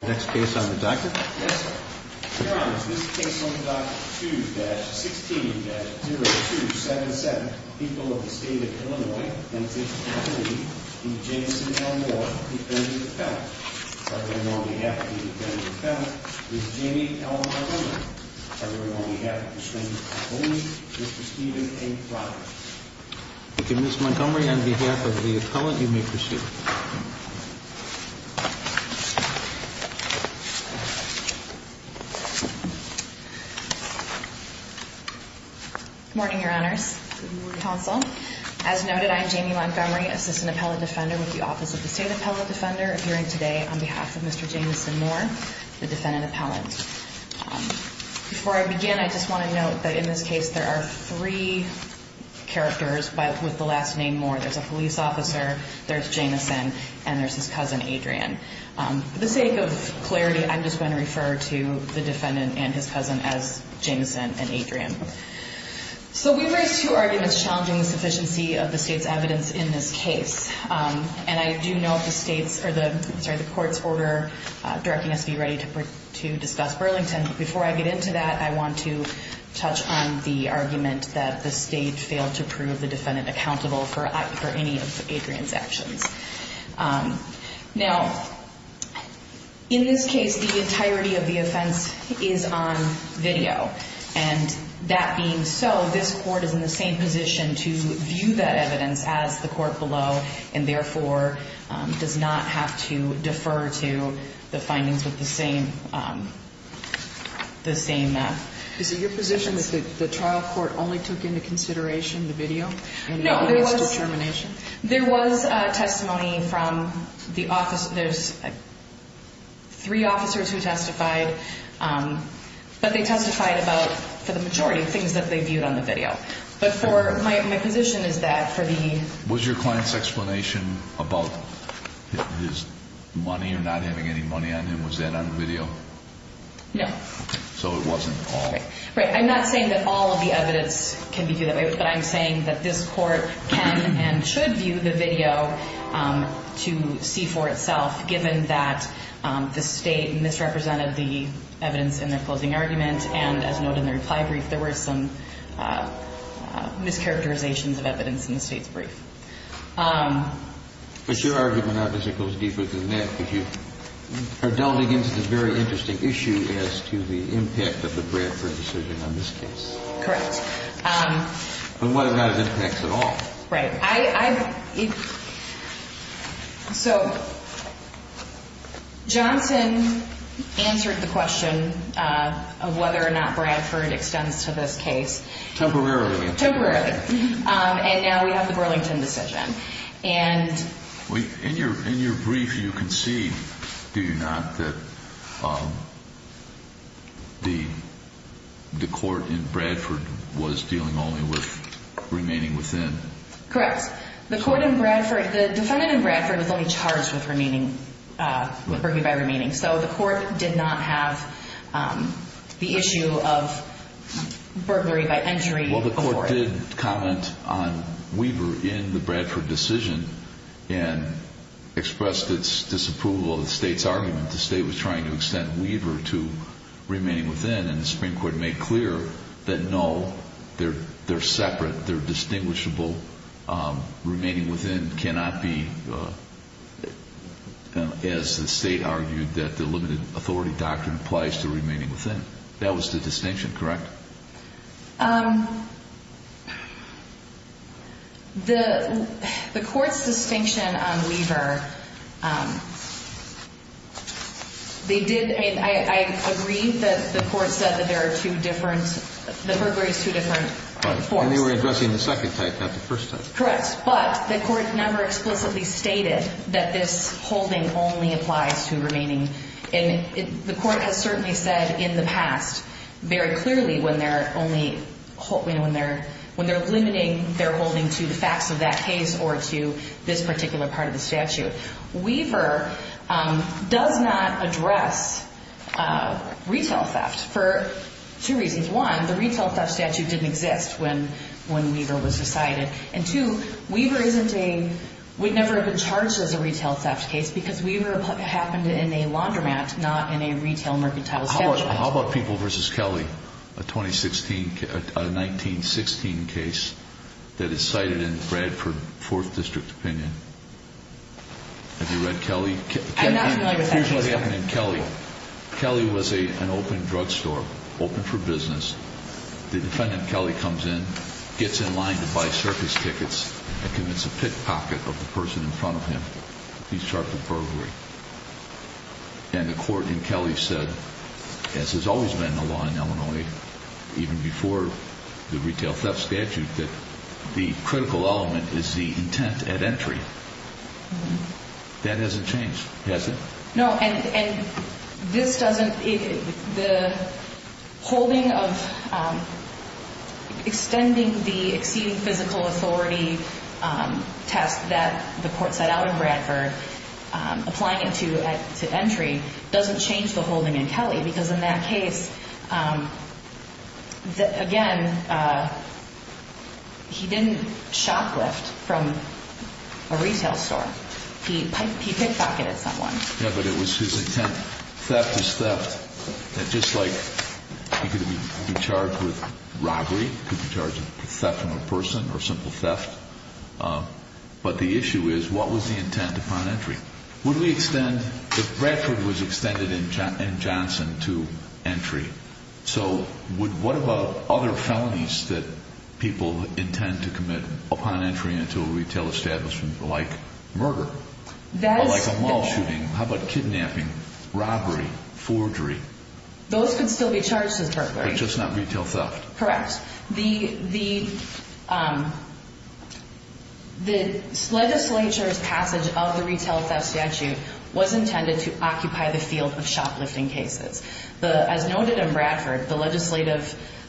The next case on the docket is this case on the docket 2-16-0277, People of the State of Illinois v. Jameson L. Moore, Defendant Appellant. I bring on behalf of the Defendant Appellant, Mr. Jamie L. Montgomery. I bring on behalf of the Supreme Court Appellant, Mr. Stephen A. Proctor. Ms. Montgomery, on behalf of the Appellant, you may proceed. Good morning, Your Honors. Good morning, Counsel. As noted, I am Jamie Montgomery, Assistant Appellant Defender with the Office of the State Appellant Defender, appearing today on behalf of Mr. Jameson Moore, the Defendant Appellant. Before I begin, I just want to note that in this case there are three characters with the last name Moore. There's a police officer, there's Jameson, and there's his cousin, Adrian. For the sake of clarity, I'm just going to refer to the defendant and his cousin as Jameson and Adrian. So we've raised two arguments challenging the sufficiency of the state's evidence in this case. And I do know the state's, sorry, the court's order directing us to be ready to discuss Burlington. Before I get into that, I want to touch on the argument that the state failed to prove the defendant accountable for any of Adrian's actions. Now, in this case, the entirety of the offense is on video. And that being so, this court is in the same position to view that evidence as the court below, and therefore does not have to defer to the findings with the same evidence. Is it your position that the trial court only took into consideration the video? No, there was testimony from the office. There's three officers who testified, but they testified about, for the majority, things that they viewed on the video. But my position is that for the... Was your client's explanation about his money or not having any money on him, was that on video? No. So it wasn't. Right. I'm not saying that all of the evidence can be viewed that way, but I'm saying that this court can and should view the video to see for itself, given that the state misrepresented the evidence in their closing argument. And as noted in the reply brief, there were some mischaracterizations of evidence in the state's brief. But your argument obviously goes deeper than that, because you are delving into this very interesting issue as to the impact of the Bradford decision on this case. Correct. But what about its impacts at all? Right. So Johnson answered the question of whether or not Bradford extends to this case. Temporarily. Temporarily. And now we have the Burlington decision. In your brief, you concede, do you not, that the court in Bradford was dealing only with remaining within? Correct. The defendant in Bradford was only charged with remaining, with burglary by remaining. So the court did not have the issue of burglary by entering. Well, the court did comment on Weaver in the Bradford decision and expressed its disapproval of the state's argument. The state was trying to extend Weaver to remaining within. And the Supreme Court made clear that no, they're separate, they're distinguishable. Remaining within cannot be, as the state argued, that the limited authority doctrine applies to remaining within. That was the distinction, correct? The court's distinction on Weaver, they did, I agree that the court said that there are two different, the burglary is two different forms. And they were addressing the second type, not the first type. Correct. But the court never explicitly stated that this holding only applies to remaining. And the court has certainly said in the past, very clearly, when they're limiting their holding to the facts of that case or to this particular part of the statute. Weaver does not address retail theft for two reasons. One, the retail theft statute didn't exist when Weaver was decided. And two, Weaver isn't a, would never have been charged as a retail theft case because Weaver happened in a laundromat, not in a retail mercantile establishment. How about People v. Kelly, a 2016, a 1916 case that is cited in Bradford 4th District opinion? Have you read Kelly? I'm not familiar with that case. Here's what happened in Kelly. Kelly was an open drugstore, open for business. The defendant, Kelly, comes in, gets in line to buy circus tickets and commits a pickpocket of the person in front of him. He's charged with burglary. And the court in Kelly said, as has always been the law in Illinois, even before the retail theft statute, that the critical element is the intent at entry. That hasn't changed, has it? No. And this doesn't, the holding of, extending the exceeding physical authority test that the court set out in Bradford, applying it to entry, doesn't change the holding in Kelly. Because in that case, again, he didn't shoplift from a retail store. He pickedpocketed someone. Yeah, but it was his intent. Theft is theft. And just like he could be charged with robbery, he could be charged with theft on a person or simple theft. But the issue is, what was the intent upon entry? Would we extend, Bradford was extended in Johnson to entry. So what about other felonies that people intend to commit upon entry into a retail establishment, like murder? Or like a mall shooting? How about kidnapping? Robbery? Forgery? Those could still be charged as burglary. But just not retail theft? Correct. The legislature's passage of the retail theft statute was intended to occupy the field of shoplifting cases. As noted in Bradford, the legislative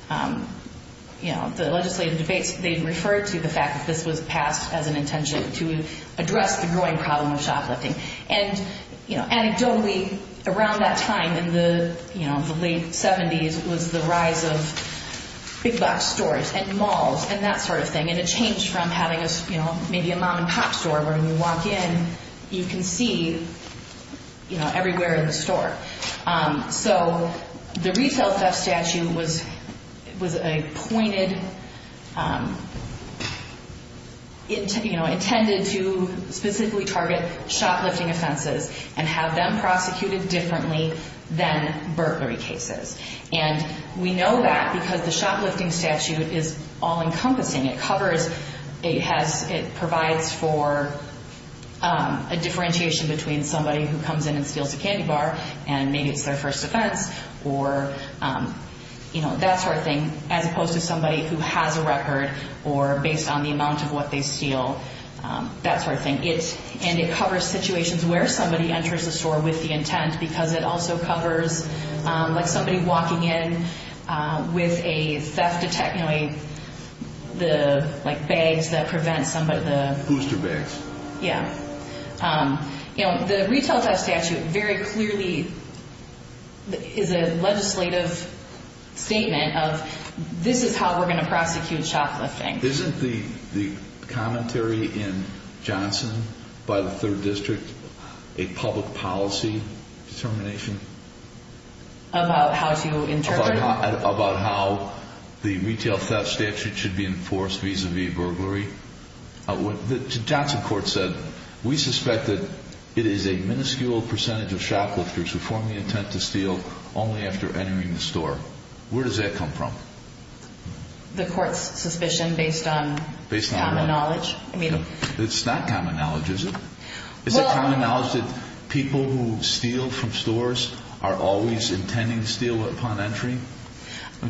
debates, they referred to the fact that this was passed as an intention to address the growing problem of shoplifting. And anecdotally, around that time in the late 70s was the rise of big box stores and malls and that sort of thing. And it changed from having maybe a mom and pop store where when you walk in, you can see everywhere in the store. So the retail theft statute was a pointed, intended to specifically target shoplifting offenses and have them prosecuted differently than burglary cases. And we know that because the shoplifting statute is all-encompassing. It provides for a differentiation between somebody who comes in and steals a candy bar and maybe it's their first offense or that sort of thing, as opposed to somebody who has a record or based on the amount of what they steal, that sort of thing. And it covers situations where somebody enters the store with the intent because it also covers like somebody walking in with a theft detect, you know, like bags that prevent somebody. Booster bags. Yeah. You know, the retail theft statute very clearly is a legislative statement of this is how we're going to prosecute shoplifting. Isn't the commentary in Johnson by the 3rd District a public policy determination? About how to interpret it? About how the retail theft statute should be enforced vis-a-vis burglary. Johnson court said, we suspect that it is a minuscule percentage of shoplifters who form the intent to steal only after entering the store. Where does that come from? The court's suspicion based on common knowledge. It's not common knowledge, is it? Is it common knowledge that people who steal from stores are always intending to steal upon entry?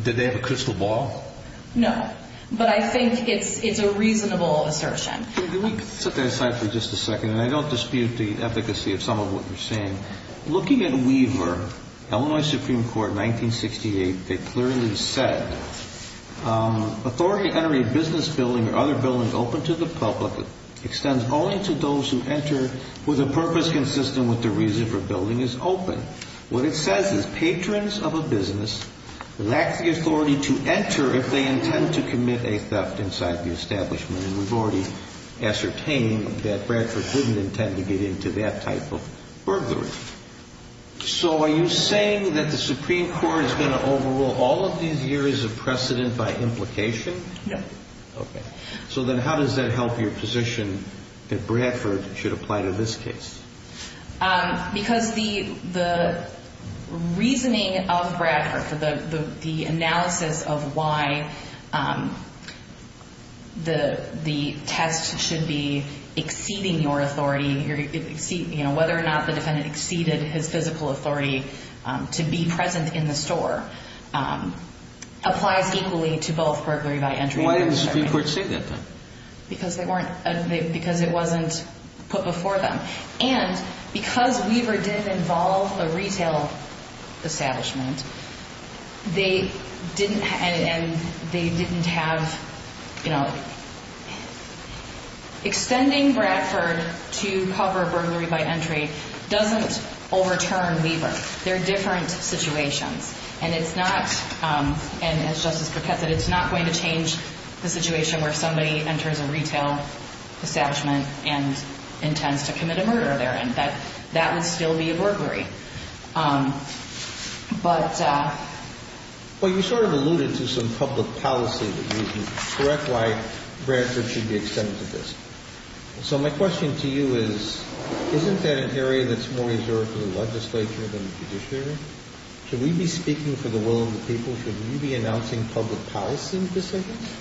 Did they have a crystal ball? No, but I think it's a reasonable assertion. Can we set that aside for just a second? And I don't dispute the efficacy of some of what you're saying. Looking at Weaver, Illinois Supreme Court, 1968, they clearly said, authority to enter a business building or other building open to the public extends only to those who enter with a purpose consistent with the reason for building is open. What it says is patrons of a business lack the authority to enter if they intend to commit a theft inside the establishment. And we've already ascertained that Bradford didn't intend to get into that type of burglary. So are you saying that the Supreme Court is going to overrule all of these years of precedent by implication? No. Okay. So then how does that help your position that Bradford should apply to this case? Because the reasoning of Bradford, the analysis of why the test should be exceeding your authority, whether or not the defendant exceeded his physical authority to be present in the store, applies equally to both burglary by entry. Why did the Supreme Court say that, then? Because it wasn't put before them. And because Weaver didn't involve a retail establishment, they didn't have, you know, extending Bradford to cover burglary by entry doesn't overturn Weaver. They're different situations. And it's not, and as Justice Paquette said, it's not going to change the situation where somebody enters a retail establishment and intends to commit a murder therein. That would still be a burglary. But... Well, you sort of alluded to some public policy reasons. Correct why Bradford should be extended to this. So my question to you is, isn't that an area that's more reserved for the legislature than the judiciary? Should we be speaking for the will of the people? Should we be announcing public policy decisions?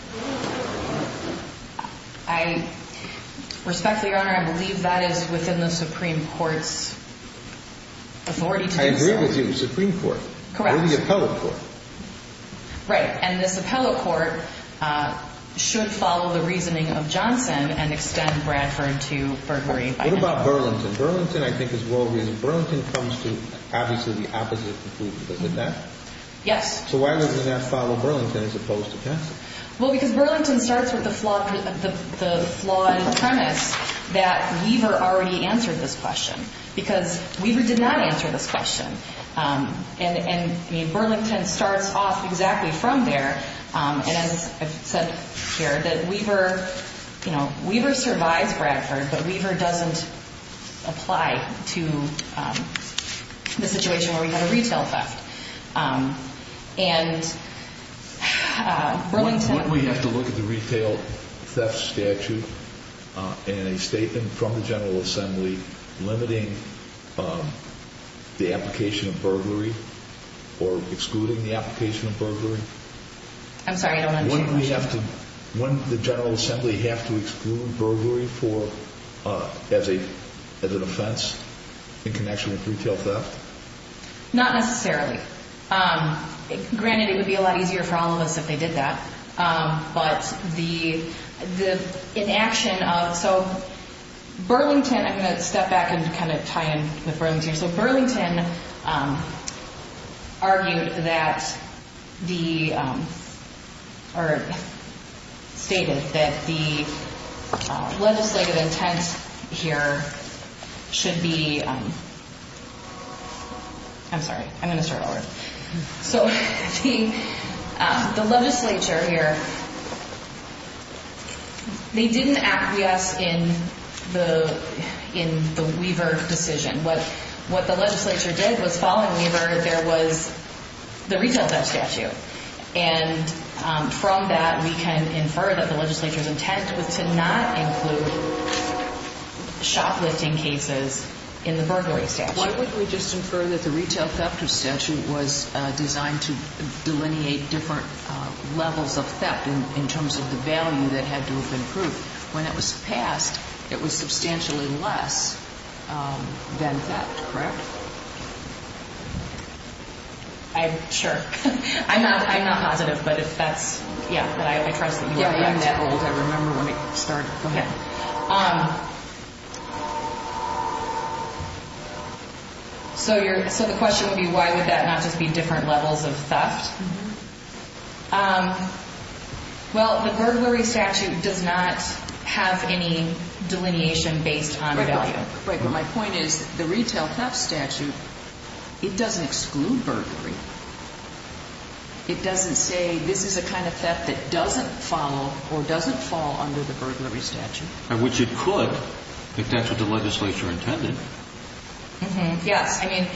I, respectfully, Your Honor, I believe that is within the Supreme Court's authority to do so. I agree with you. Supreme Court. Correct. Or the appellate court. Right. And this appellate court should follow the reasoning of Johnson and extend Bradford to burglary by entry. What about Burlington? Burlington, I think, is well-reasoned. Burlington comes to, obviously, the opposite conclusion. Doesn't that? Yes. So why doesn't that follow Burlington as opposed to Johnson? Well, because Burlington starts with the flawed premise that Weaver already answered this question. Because Weaver did not answer this question. And Burlington starts off exactly from there. And as I've said here, that Weaver, you know, Weaver survives Bradford, but Weaver doesn't apply to the situation where we have a retail theft. And Burlington— Wouldn't we have to look at the retail theft statute in a statement from the General Assembly limiting the application of burglary or excluding the application of burglary? I'm sorry, I don't understand your question. Wouldn't we have to—wouldn't the General Assembly have to exclude burglary for—as an offense in connection with retail theft? Not necessarily. Granted, it would be a lot easier for all of us if they did that. But the inaction of—so Burlington—I'm going to step back and kind of tie in with Burlington. So Burlington argued that the—or stated that the legislative intent here should be—I'm sorry, I'm going to start over. So the legislature here, they didn't acquiesce in the Weaver decision. What the legislature did was, following Weaver, there was the retail theft statute. And from that, we can infer that the legislature's intent was to not include shoplifting cases in the burglary statute. Why wouldn't we just infer that the retail theft statute was designed to delineate different levels of theft in terms of the value that had to have been proved? When it was passed, it was substantially less than theft, correct? I—sure. I'm not positive, but if that's—yeah, I trust that you are correct. Yeah, I am that old. I remember when it started. Go ahead. So your—so the question would be, why would that not just be different levels of theft? Well, the burglary statute does not have any delineation based on value. Right, but my point is, the retail theft statute, it doesn't exclude burglary. It doesn't say, this is a kind of theft that doesn't follow or doesn't fall under the burglary statute. Which it could, if that's what the legislature intended. Mm-hmm, yes. I mean,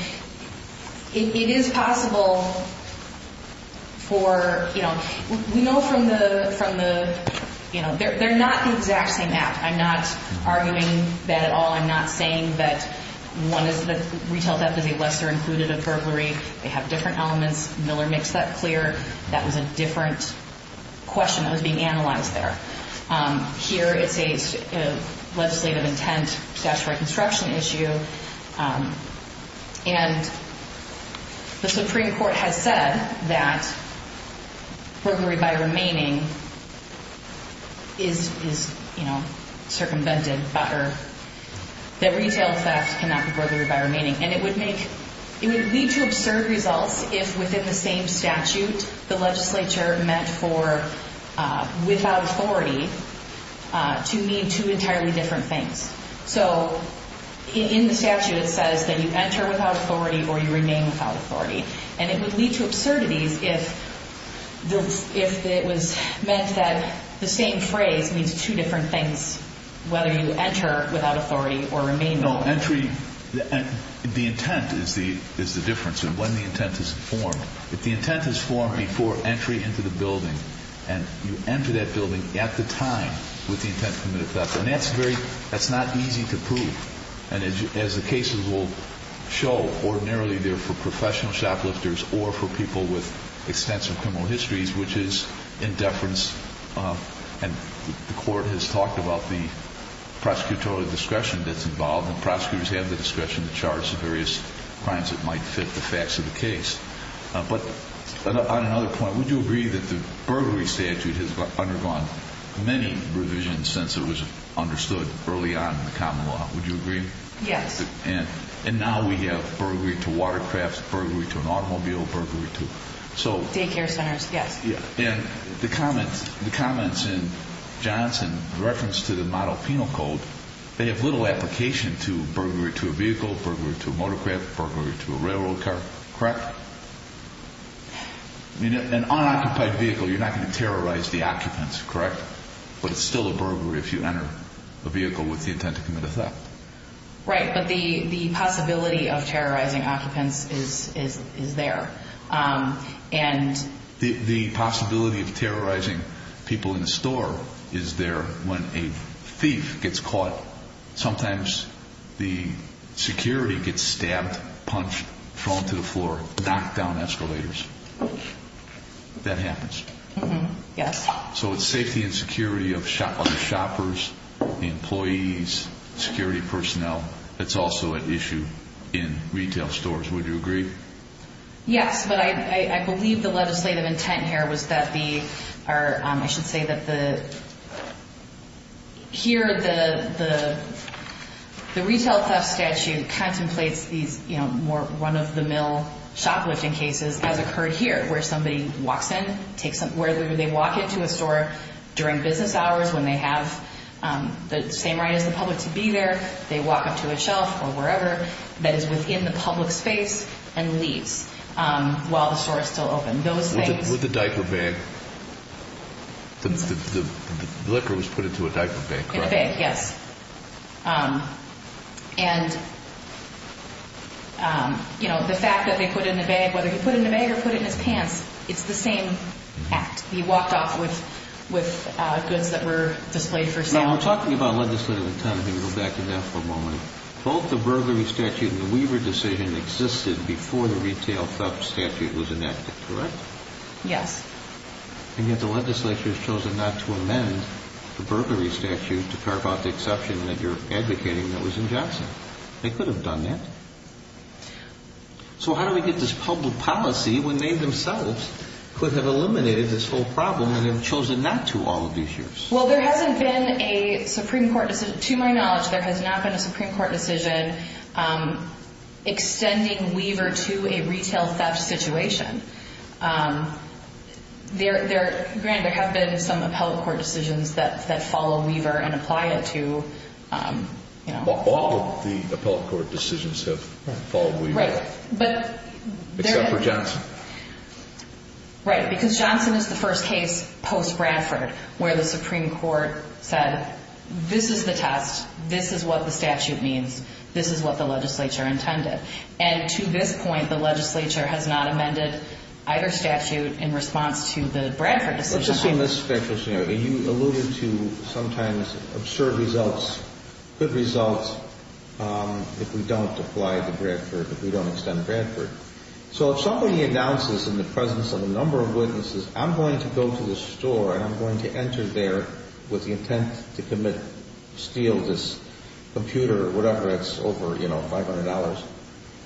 it is possible for, you know—we know from the, you know, they're not the exact same act. I'm not arguing that at all. I'm not saying that one is the retail theft is a lesser included of burglary. They have different elements. Miller makes that clear. That was a different question that was being analyzed there. Here it says legislative intent, statutory construction issue. And the Supreme Court has said that burglary by remaining is, you know, circumvented. That retail theft cannot be burglary by remaining. And it would make—it would lead to absurd results if, within the same statute, the legislature meant for without authority to mean two entirely different things. So, in the statute, it says that you enter without authority or you remain without authority. And it would lead to absurdities if it was meant that the same phrase means two different things, You know, entry—the intent is the difference in when the intent is formed. If the intent is formed before entry into the building, and you enter that building at the time with the intent to commit a theft, then that's very—that's not easy to prove. And as the cases will show, ordinarily they're for professional shoplifters or for people with extensive criminal histories, which is in deference— And the court has talked about the prosecutorial discretion that's involved, and prosecutors have the discretion to charge the various crimes that might fit the facts of the case. But on another point, would you agree that the burglary statute has undergone many revisions since it was understood early on in the common law? Would you agree? Yes. And now we have burglary to watercrafts, burglary to an automobile, burglary to— Daycare centers, yes. And the comments in Johnson in reference to the model penal code, they have little application to burglary to a vehicle, burglary to a motorcraft, burglary to a railroad car, correct? I mean, an unoccupied vehicle, you're not going to terrorize the occupants, correct? But it's still a burglary if you enter a vehicle with the intent to commit a theft. Right, but the possibility of terrorizing occupants is there. And— The possibility of terrorizing people in the store is there. When a thief gets caught, sometimes the security gets stabbed, punched, thrown to the floor, knocked down escalators. That happens. Yes. So it's safety and security of shoppers, employees, security personnel. It's also at issue in retail stores. Would you agree? Yes. But I believe the legislative intent here was that the—or I should say that the— Here, the retail theft statute contemplates these more run-of-the-mill shoplifting cases as occurred here, where somebody walks in, takes— where they walk into a store during business hours when they have the same right as the public to be there. They walk up to a shelf or wherever that is within the public space and leaves while the store is still open. Those things— With a diaper bag. The liquor was put into a diaper bag, correct? In a bag, yes. And, you know, the fact that they put it in a bag, whether you put it in a bag or put it in his pants, it's the same act. He walked off with goods that were displayed for sale. Now, talking about legislative intent, let me go back to that for a moment. Both the burglary statute and the Weaver decision existed before the retail theft statute was enacted, correct? Yes. And yet the legislature has chosen not to amend the burglary statute to carve out the exception that you're advocating that was in Johnson. They could have done that. So how do we get this public policy, when they themselves could have eliminated this whole problem and have chosen not to all of these years? Well, there hasn't been a Supreme Court decision—to my knowledge, there has not been a Supreme Court decision extending Weaver to a retail theft situation. Granted, there have been some appellate court decisions that follow Weaver and apply it to— All of the appellate court decisions have followed Weaver. Right. Except for Johnson. Right. Because Johnson is the first case post-Bradford where the Supreme Court said, this is the test, this is what the statute means, this is what the legislature intended. And to this point, the legislature has not amended either statute in response to the Bradford decision. Let's assume this is a factual scenario. You alluded to sometimes absurd results, good results if we don't apply to Bradford, if we don't extend Bradford. So if somebody announces in the presence of a number of witnesses, I'm going to go to this store and I'm going to enter there with the intent to commit—steal this computer or whatever, it's over, you know, $500.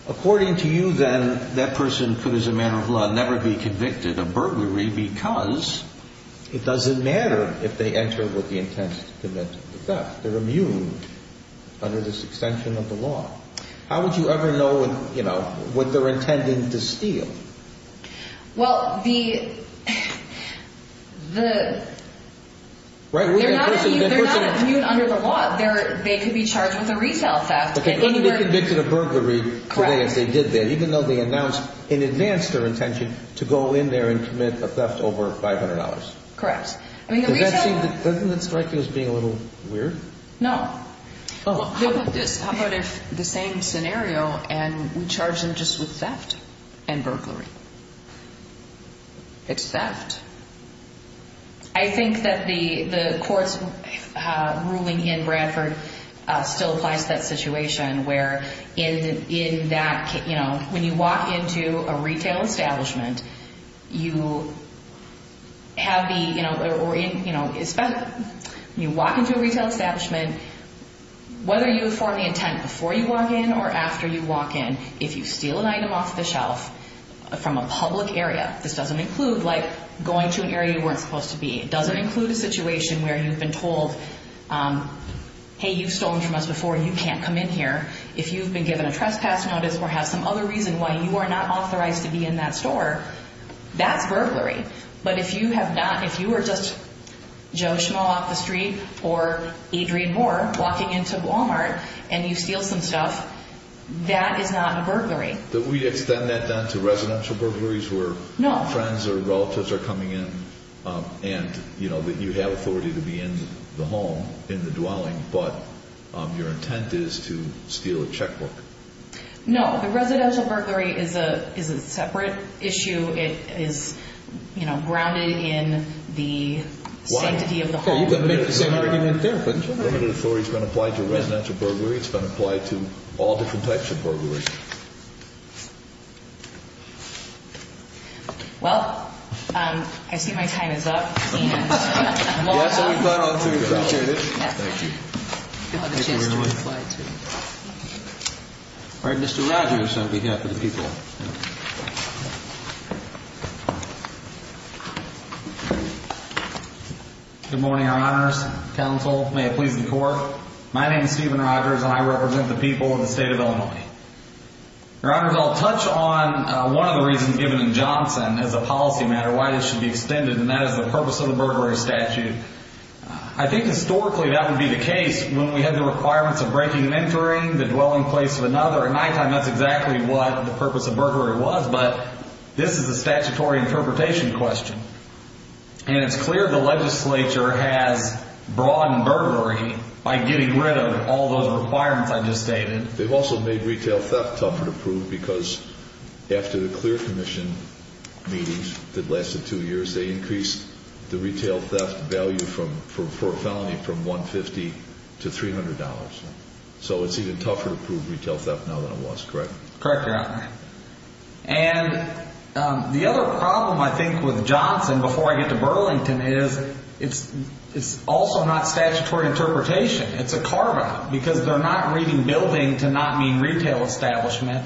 According to you then, that person could as a matter of law never be convicted of burglary because it doesn't matter if they enter with the intent to commit the theft. They're immune under this extension of the law. How would you ever know, you know, what they're intending to steal? Well, the— They're not immune under the law. They could be charged with a retail theft. But they could be convicted of burglary if they did that, even though they announced in advance their intention to go in there and commit a theft over $500. Correct. Doesn't that strike you as being a little weird? No. How about this? How about if the same scenario and we charge them just with theft and burglary? It's theft. I think that the court's ruling in Bradford still applies to that situation where in that, you know, when you walk into a retail establishment, you have the, you know— Whether you form the intent before you walk in or after you walk in, if you steal an item off the shelf from a public area, this doesn't include, like, going to an area you weren't supposed to be. It doesn't include a situation where you've been told, hey, you've stolen from us before and you can't come in here. If you've been given a trespass notice or have some other reason why you are not authorized to be in that store, that's burglary. But if you have not—if you are just Joe Schmo off the street or Adrian Moore walking into Walmart and you steal some stuff, that is not a burglary. Do we extend that down to residential burglaries where friends or relatives are coming in and, you know, you have authority to be in the home, in the dwelling, but your intent is to steal a checkbook? No. The residential burglary is a separate issue. It is, you know, grounded in the sanctity of the home. Why? You can make the same argument there, couldn't you? Limited authority has been applied to residential burglaries. It's been applied to all different types of burglaries. Well, I see my time is up. Yes, we plan on doing that. Thank you. You'll have a chance to reply, too. All right. Mr. Rogers on behalf of the people. Good morning, Your Honors. Counsel, may it please the Court. My name is Stephen Rogers, and I represent the people of the state of Illinois. Your Honors, I'll touch on one of the reasons given in Johnson as a policy matter, why this should be extended, and that is the purpose of the burglary statute. I think historically that would be the case when we had the requirements of breaking and entering the dwelling place of another at nighttime. That's exactly what the purpose of burglary was. But this is a statutory interpretation question. And it's clear the legislature has broadened burglary by getting rid of all those requirements I just stated. They've also made retail theft tougher to prove because after the clear commission meetings that lasted two years, they increased the retail theft value for a felony from $150 to $300. So it's even tougher to prove retail theft now than it was, correct? Correct, Your Honor. And the other problem, I think, with Johnson before I get to Burlington is it's also not statutory interpretation. It's a carve-out because they're not reading building to not mean retail establishment,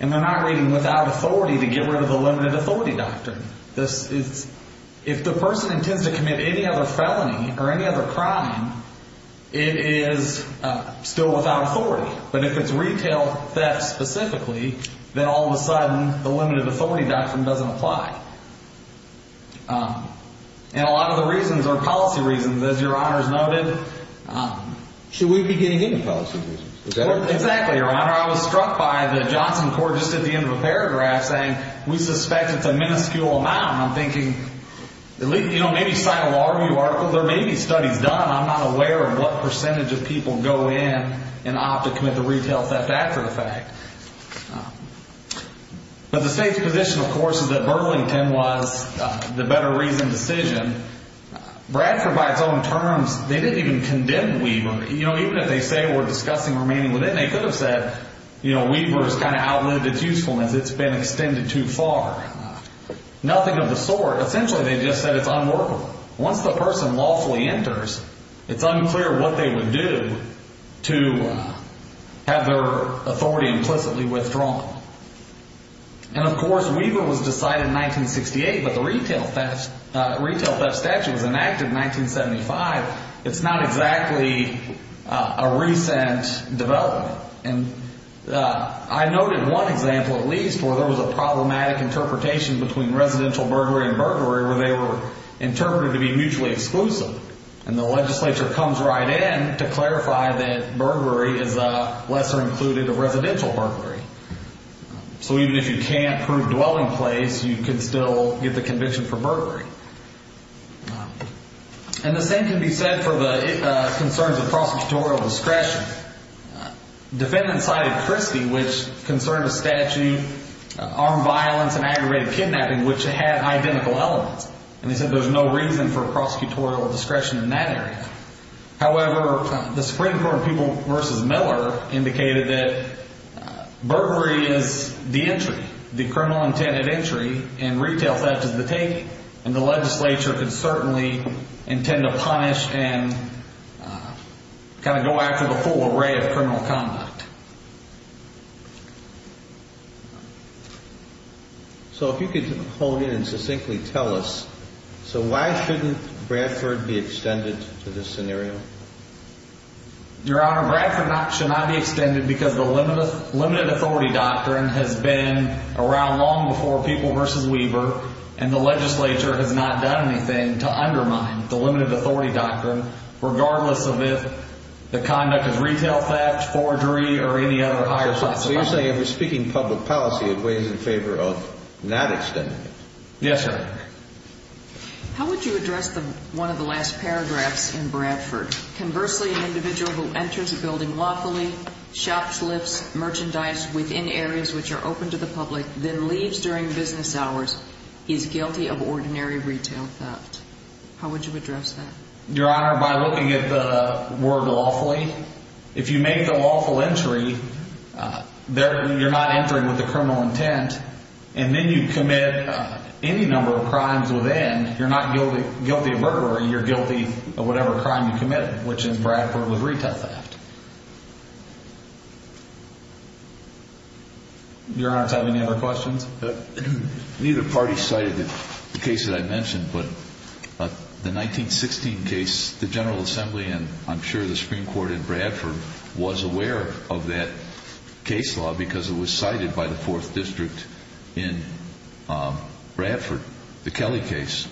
and they're not reading without authority to get rid of the limited authority doctrine. If the person intends to commit any other felony or any other crime, it is still without authority. But if it's retail theft specifically, then all of a sudden the limited authority doctrine doesn't apply. And a lot of the reasons are policy reasons, as Your Honor has noted. Should we be getting any policy reasons? Exactly, Your Honor. Your Honor, I was struck by the Johnson court just at the end of the paragraph saying, we suspect it's a minuscule amount. I'm thinking, you know, maybe sign a law review article. There may be studies done. I'm not aware of what percentage of people go in and opt to commit the retail theft after the fact. But the state's position, of course, is that Burlington was the better reasoned decision. Bradford, by its own terms, they didn't even condemn Weaver. You know, even if they say we're discussing remaining within, they could have said, you know, Weaver's kind of outlived its usefulness. It's been extended too far. Nothing of the sort. Essentially, they just said it's unworkable. Once the person lawfully enters, it's unclear what they would do to have their authority implicitly withdrawn. And, of course, Weaver was decided in 1968, but the retail theft statute was enacted in 1975. It's not exactly a recent development. And I noted one example, at least, where there was a problematic interpretation between residential burglary and burglary, where they were interpreted to be mutually exclusive. And the legislature comes right in to clarify that burglary is a lesser included of residential burglary. So even if you can't prove dwelling place, you can still get the conviction for burglary. And the same can be said for the concerns of prosecutorial discretion. Defendants cited Christie, which concerned a statute, armed violence, and aggravated kidnapping, which had identical elements. And they said there's no reason for prosecutorial discretion in that area. However, the Supreme Court of People v. Miller indicated that burglary is the entry, the criminal intended entry, and retail theft is the take. And the legislature can certainly intend to punish and kind of go after the full array of criminal conduct. So if you could hold it and succinctly tell us, so why shouldn't Bradford be extended to this scenario? Your Honor, Bradford should not be extended because the limited authority doctrine has been around long before People v. Weber, and the legislature has not done anything to undermine the limited authority doctrine, regardless of if the conduct is retail theft, forgery, or any other higher possibility. So you're saying if we're speaking public policy, it weighs in favor of not extending it? Yes, sir. How would you address one of the last paragraphs in Bradford? Conversely, an individual who enters a building lawfully, shops, lifts, merchandise within areas which are open to the public, then leaves during business hours, is guilty of ordinary retail theft. How would you address that? Your Honor, by looking at the word lawfully, if you make the lawful entry, you're not entering with a criminal intent, and then you commit any number of crimes within, you're not guilty of burglary, you're guilty of whatever crime you committed, which in Bradford was retail theft. Your Honor, do you have any other questions? Neither party cited the case that I mentioned, but the 1916 case, the General Assembly, and I'm sure the Supreme Court in Bradford was aware of that case law because it was cited by the 4th District in Bradford, the Kelly case.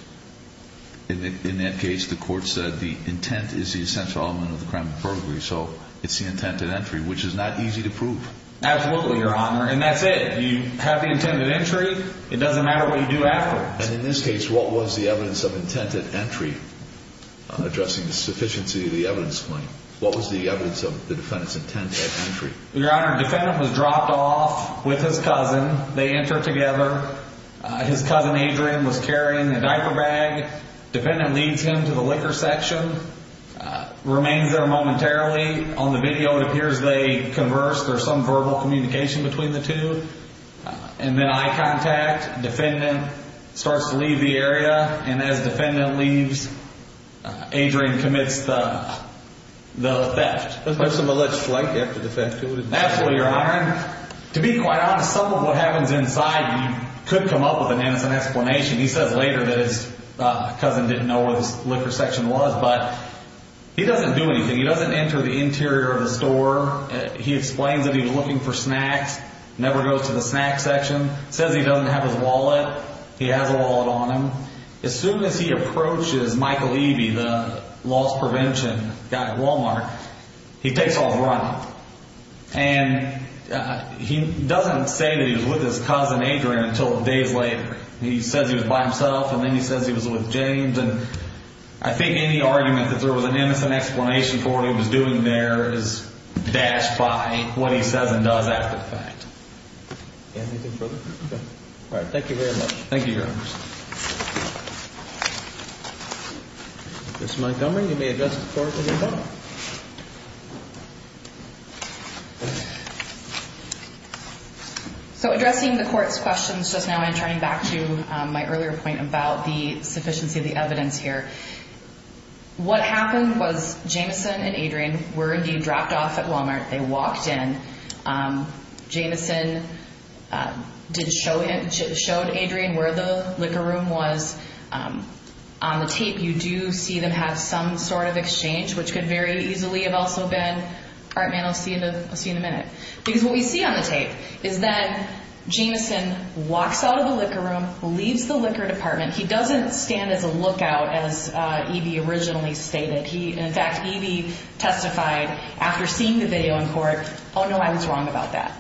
In that case, the court said the intent is the essential element of the crime of burglary, so it's the intent at entry, which is not easy to prove. Absolutely, Your Honor, and that's it. You have the intent at entry, it doesn't matter what you do after. And in this case, what was the evidence of intent at entry, addressing the sufficiency of the evidence point? What was the evidence of the defendant's intent at entry? Your Honor, the defendant was dropped off with his cousin. They enter together. His cousin, Adrian, was carrying a diaper bag. The defendant leads him to the liquor section, remains there momentarily. On the video, it appears they converse. There's some verbal communication between the two. And then eye contact, the defendant starts to leave the area, and as the defendant leaves, Adrian commits the theft. There's some alleged flak after the theft, too, isn't there? Absolutely, Your Honor. To be quite honest, some of what happens inside, you could come up with an innocent explanation. He says later that his cousin didn't know where the liquor section was, but he doesn't do anything. He doesn't enter the interior of the store. He explains that he was looking for snacks, never goes to the snack section. Says he doesn't have his wallet. He has a wallet on him. As soon as he approaches Michael Eby, the loss prevention guy at Walmart, he takes off running. And he doesn't say that he was with his cousin, Adrian, until days later. He says he was by himself, and then he says he was with James. And I think any argument that there was an innocent explanation for what he was doing there is dashed by what he says and does after the fact. Anything further? Okay. All right, thank you very much. Thank you, Your Honor. Ms. Montgomery, you may address the court as well. So addressing the court's questions just now, I'm turning back to my earlier point about the sufficiency of the evidence here. What happened was Jameson and Adrian were indeed dropped off at Walmart. They walked in. Jameson showed Adrian where the liquor room was. On the tape, you do see them have some sort of exchange, which could very easily have also been, all right, man, I'll see you in a minute. Because what we see on the tape is that Jameson walks out of the liquor room, leaves the liquor department. He doesn't stand as a lookout as Eby originally stated. In fact, Eby testified after seeing the video in court, oh, no, I was wrong about that.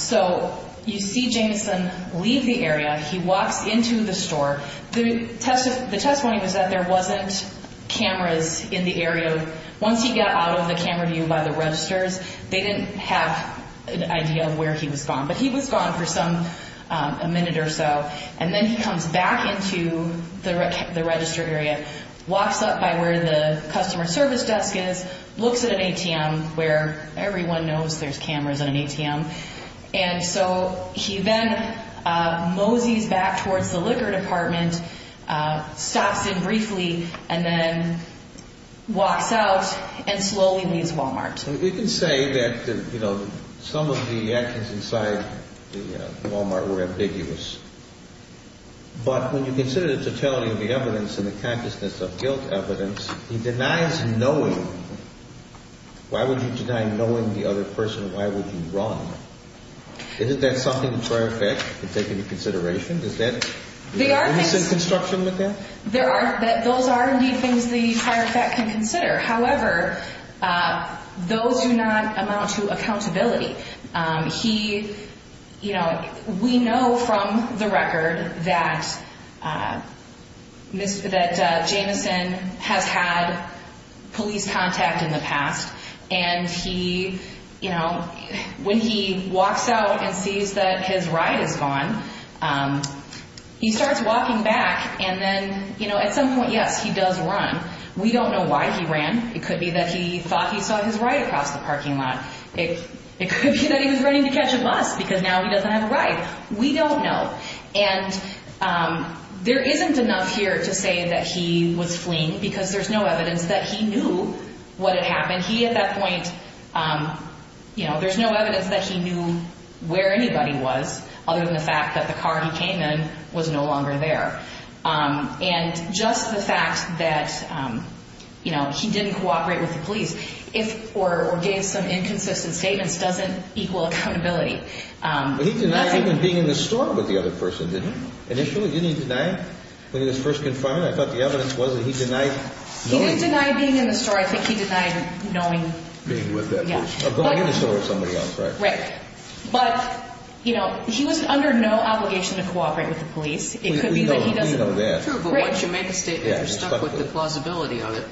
So you see Jameson leave the area. He walks into the store. The testimony was that there wasn't cameras in the area. Once he got out of the camera view by the registers, they didn't have an idea of where he was going. But he was gone for a minute or so. And then he comes back into the register area, walks up by where the customer service desk is, looks at an ATM where everyone knows there's cameras at an ATM. And so he then moseys back towards the liquor department, stops in briefly, and then walks out and slowly leaves Wal-Mart. We can say that some of the actions inside the Wal-Mart were ambiguous. But when you consider the totality of the evidence and the consciousness of guilt evidence, he denies knowing. Why would you deny knowing the other person? Why would you run? Isn't that something the prior effect could take into consideration? Is that innocent construction with that? Those are, indeed, things the prior effect can consider. However, those do not amount to accountability. We know from the record that Jameson has had police contact in the past. And when he walks out and sees that his ride is gone, he starts walking back. And then at some point, yes, he does run. We don't know why he ran. It could be that he thought he saw his ride across the parking lot. It could be that he was running to catch a bus because now he doesn't have a ride. We don't know. And there isn't enough here to say that he was fleeing because there's no evidence that he knew what had happened. He, at that point, you know, there's no evidence that he knew where anybody was other than the fact that the car he came in was no longer there. And just the fact that, you know, he didn't cooperate with the police or gave some inconsistent statements doesn't equal accountability. But he denied even being in the store with the other person, didn't he? Initially, didn't he deny when he was first confined? I thought the evidence was that he denied knowing. He didn't deny being in the store. I think he denied knowing. Being with that person. Of going in the store with somebody else, right? Right. But, you know, he was under no obligation to cooperate with the police. It could be that he doesn't. We know that. True, but once you make a statement, you're stuck with the plausibility of it.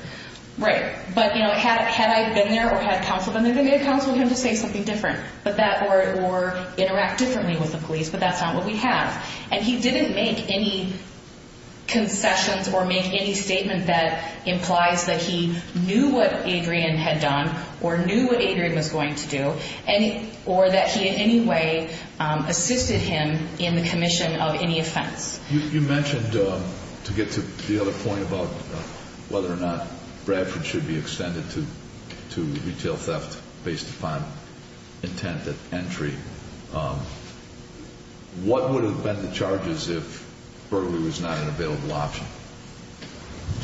Right. But, you know, had I been there or had counseled him, they would have counseled him to say something different or interact differently with the police, but that's not what we have. And he didn't make any concessions or make any statement that implies that he knew what Adrian had done or knew what Adrian was going to do or that he in any way assisted him in the commission of any offense. You mentioned, to get to the other point about whether or not Bradford should be extended to retail theft based upon intent at entry, what would have been the charges if burglary was not an available option?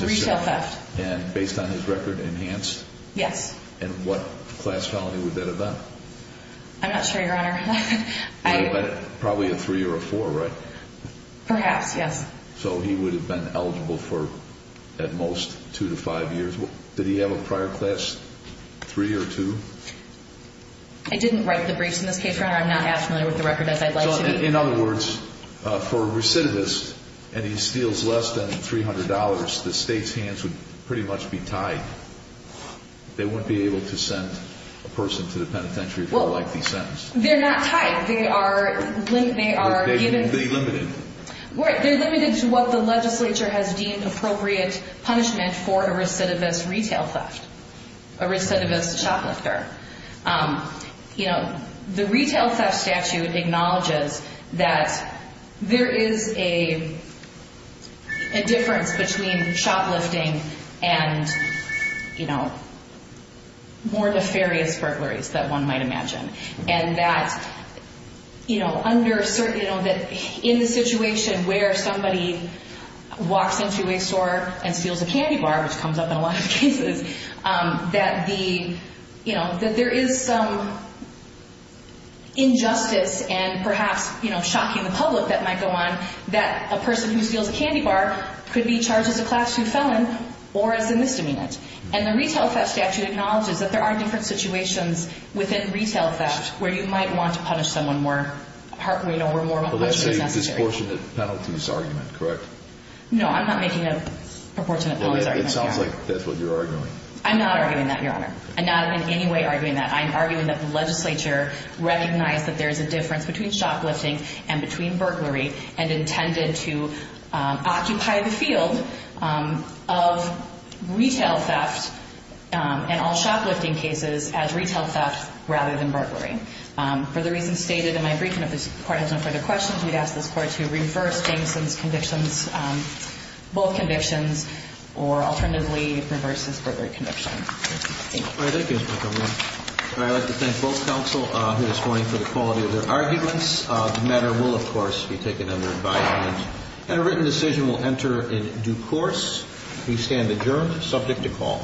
Retail theft. And based on his record, enhanced? Yes. And what class felony would that have been? I'm not sure, Your Honor. Probably a three or a four, right? Perhaps, yes. So he would have been eligible for at most two to five years. Did he have a prior class three or two? I didn't write the briefs in this case, Your Honor. I'm not as familiar with the record as I'd like to be. In other words, for a recidivist and he steals less than $300, the state's hands would pretty much be tied. They wouldn't be able to send a person to the penitentiary for a lengthy sentence. They're not tied. But they're limited. They're limited to what the legislature has deemed appropriate punishment for a recidivist retail theft, a recidivist shoplifter. The retail theft statute acknowledges that there is a difference between shoplifting and more nefarious burglaries that one might imagine, and that in the situation where somebody walks into a store and steals a candy bar, which comes up in a lot of cases, that there is some injustice and perhaps shocking the public that might go on that a person who steals a candy bar could be charged as a class two felon or as a misdemeanor. And the retail theft statute acknowledges that there are different situations within retail theft where you might want to punish someone where more punishment is necessary. But let's say it's a proportionate penalties argument, correct? No, I'm not making a proportionate penalties argument. It sounds like that's what you're arguing. I'm not arguing that, Your Honor. I'm not in any way arguing that. I'm arguing that the legislature recognized that there's a difference between shoplifting and between burglary and intended to occupy the field of retail theft and all shoplifting cases as retail theft rather than burglary. For the reasons stated in my brief, and if this Court has no further questions, we'd ask this Court to reverse Jameson's convictions, both convictions, or alternatively reverse his burglary conviction. Thank you. All right, thank you, Ms. Montgomery. I'd like to thank both counsel who is voting for the quality of their arguments. The matter will, of course, be taken under advisement. And a written decision will enter in due course. We stand adjourned, subject to call.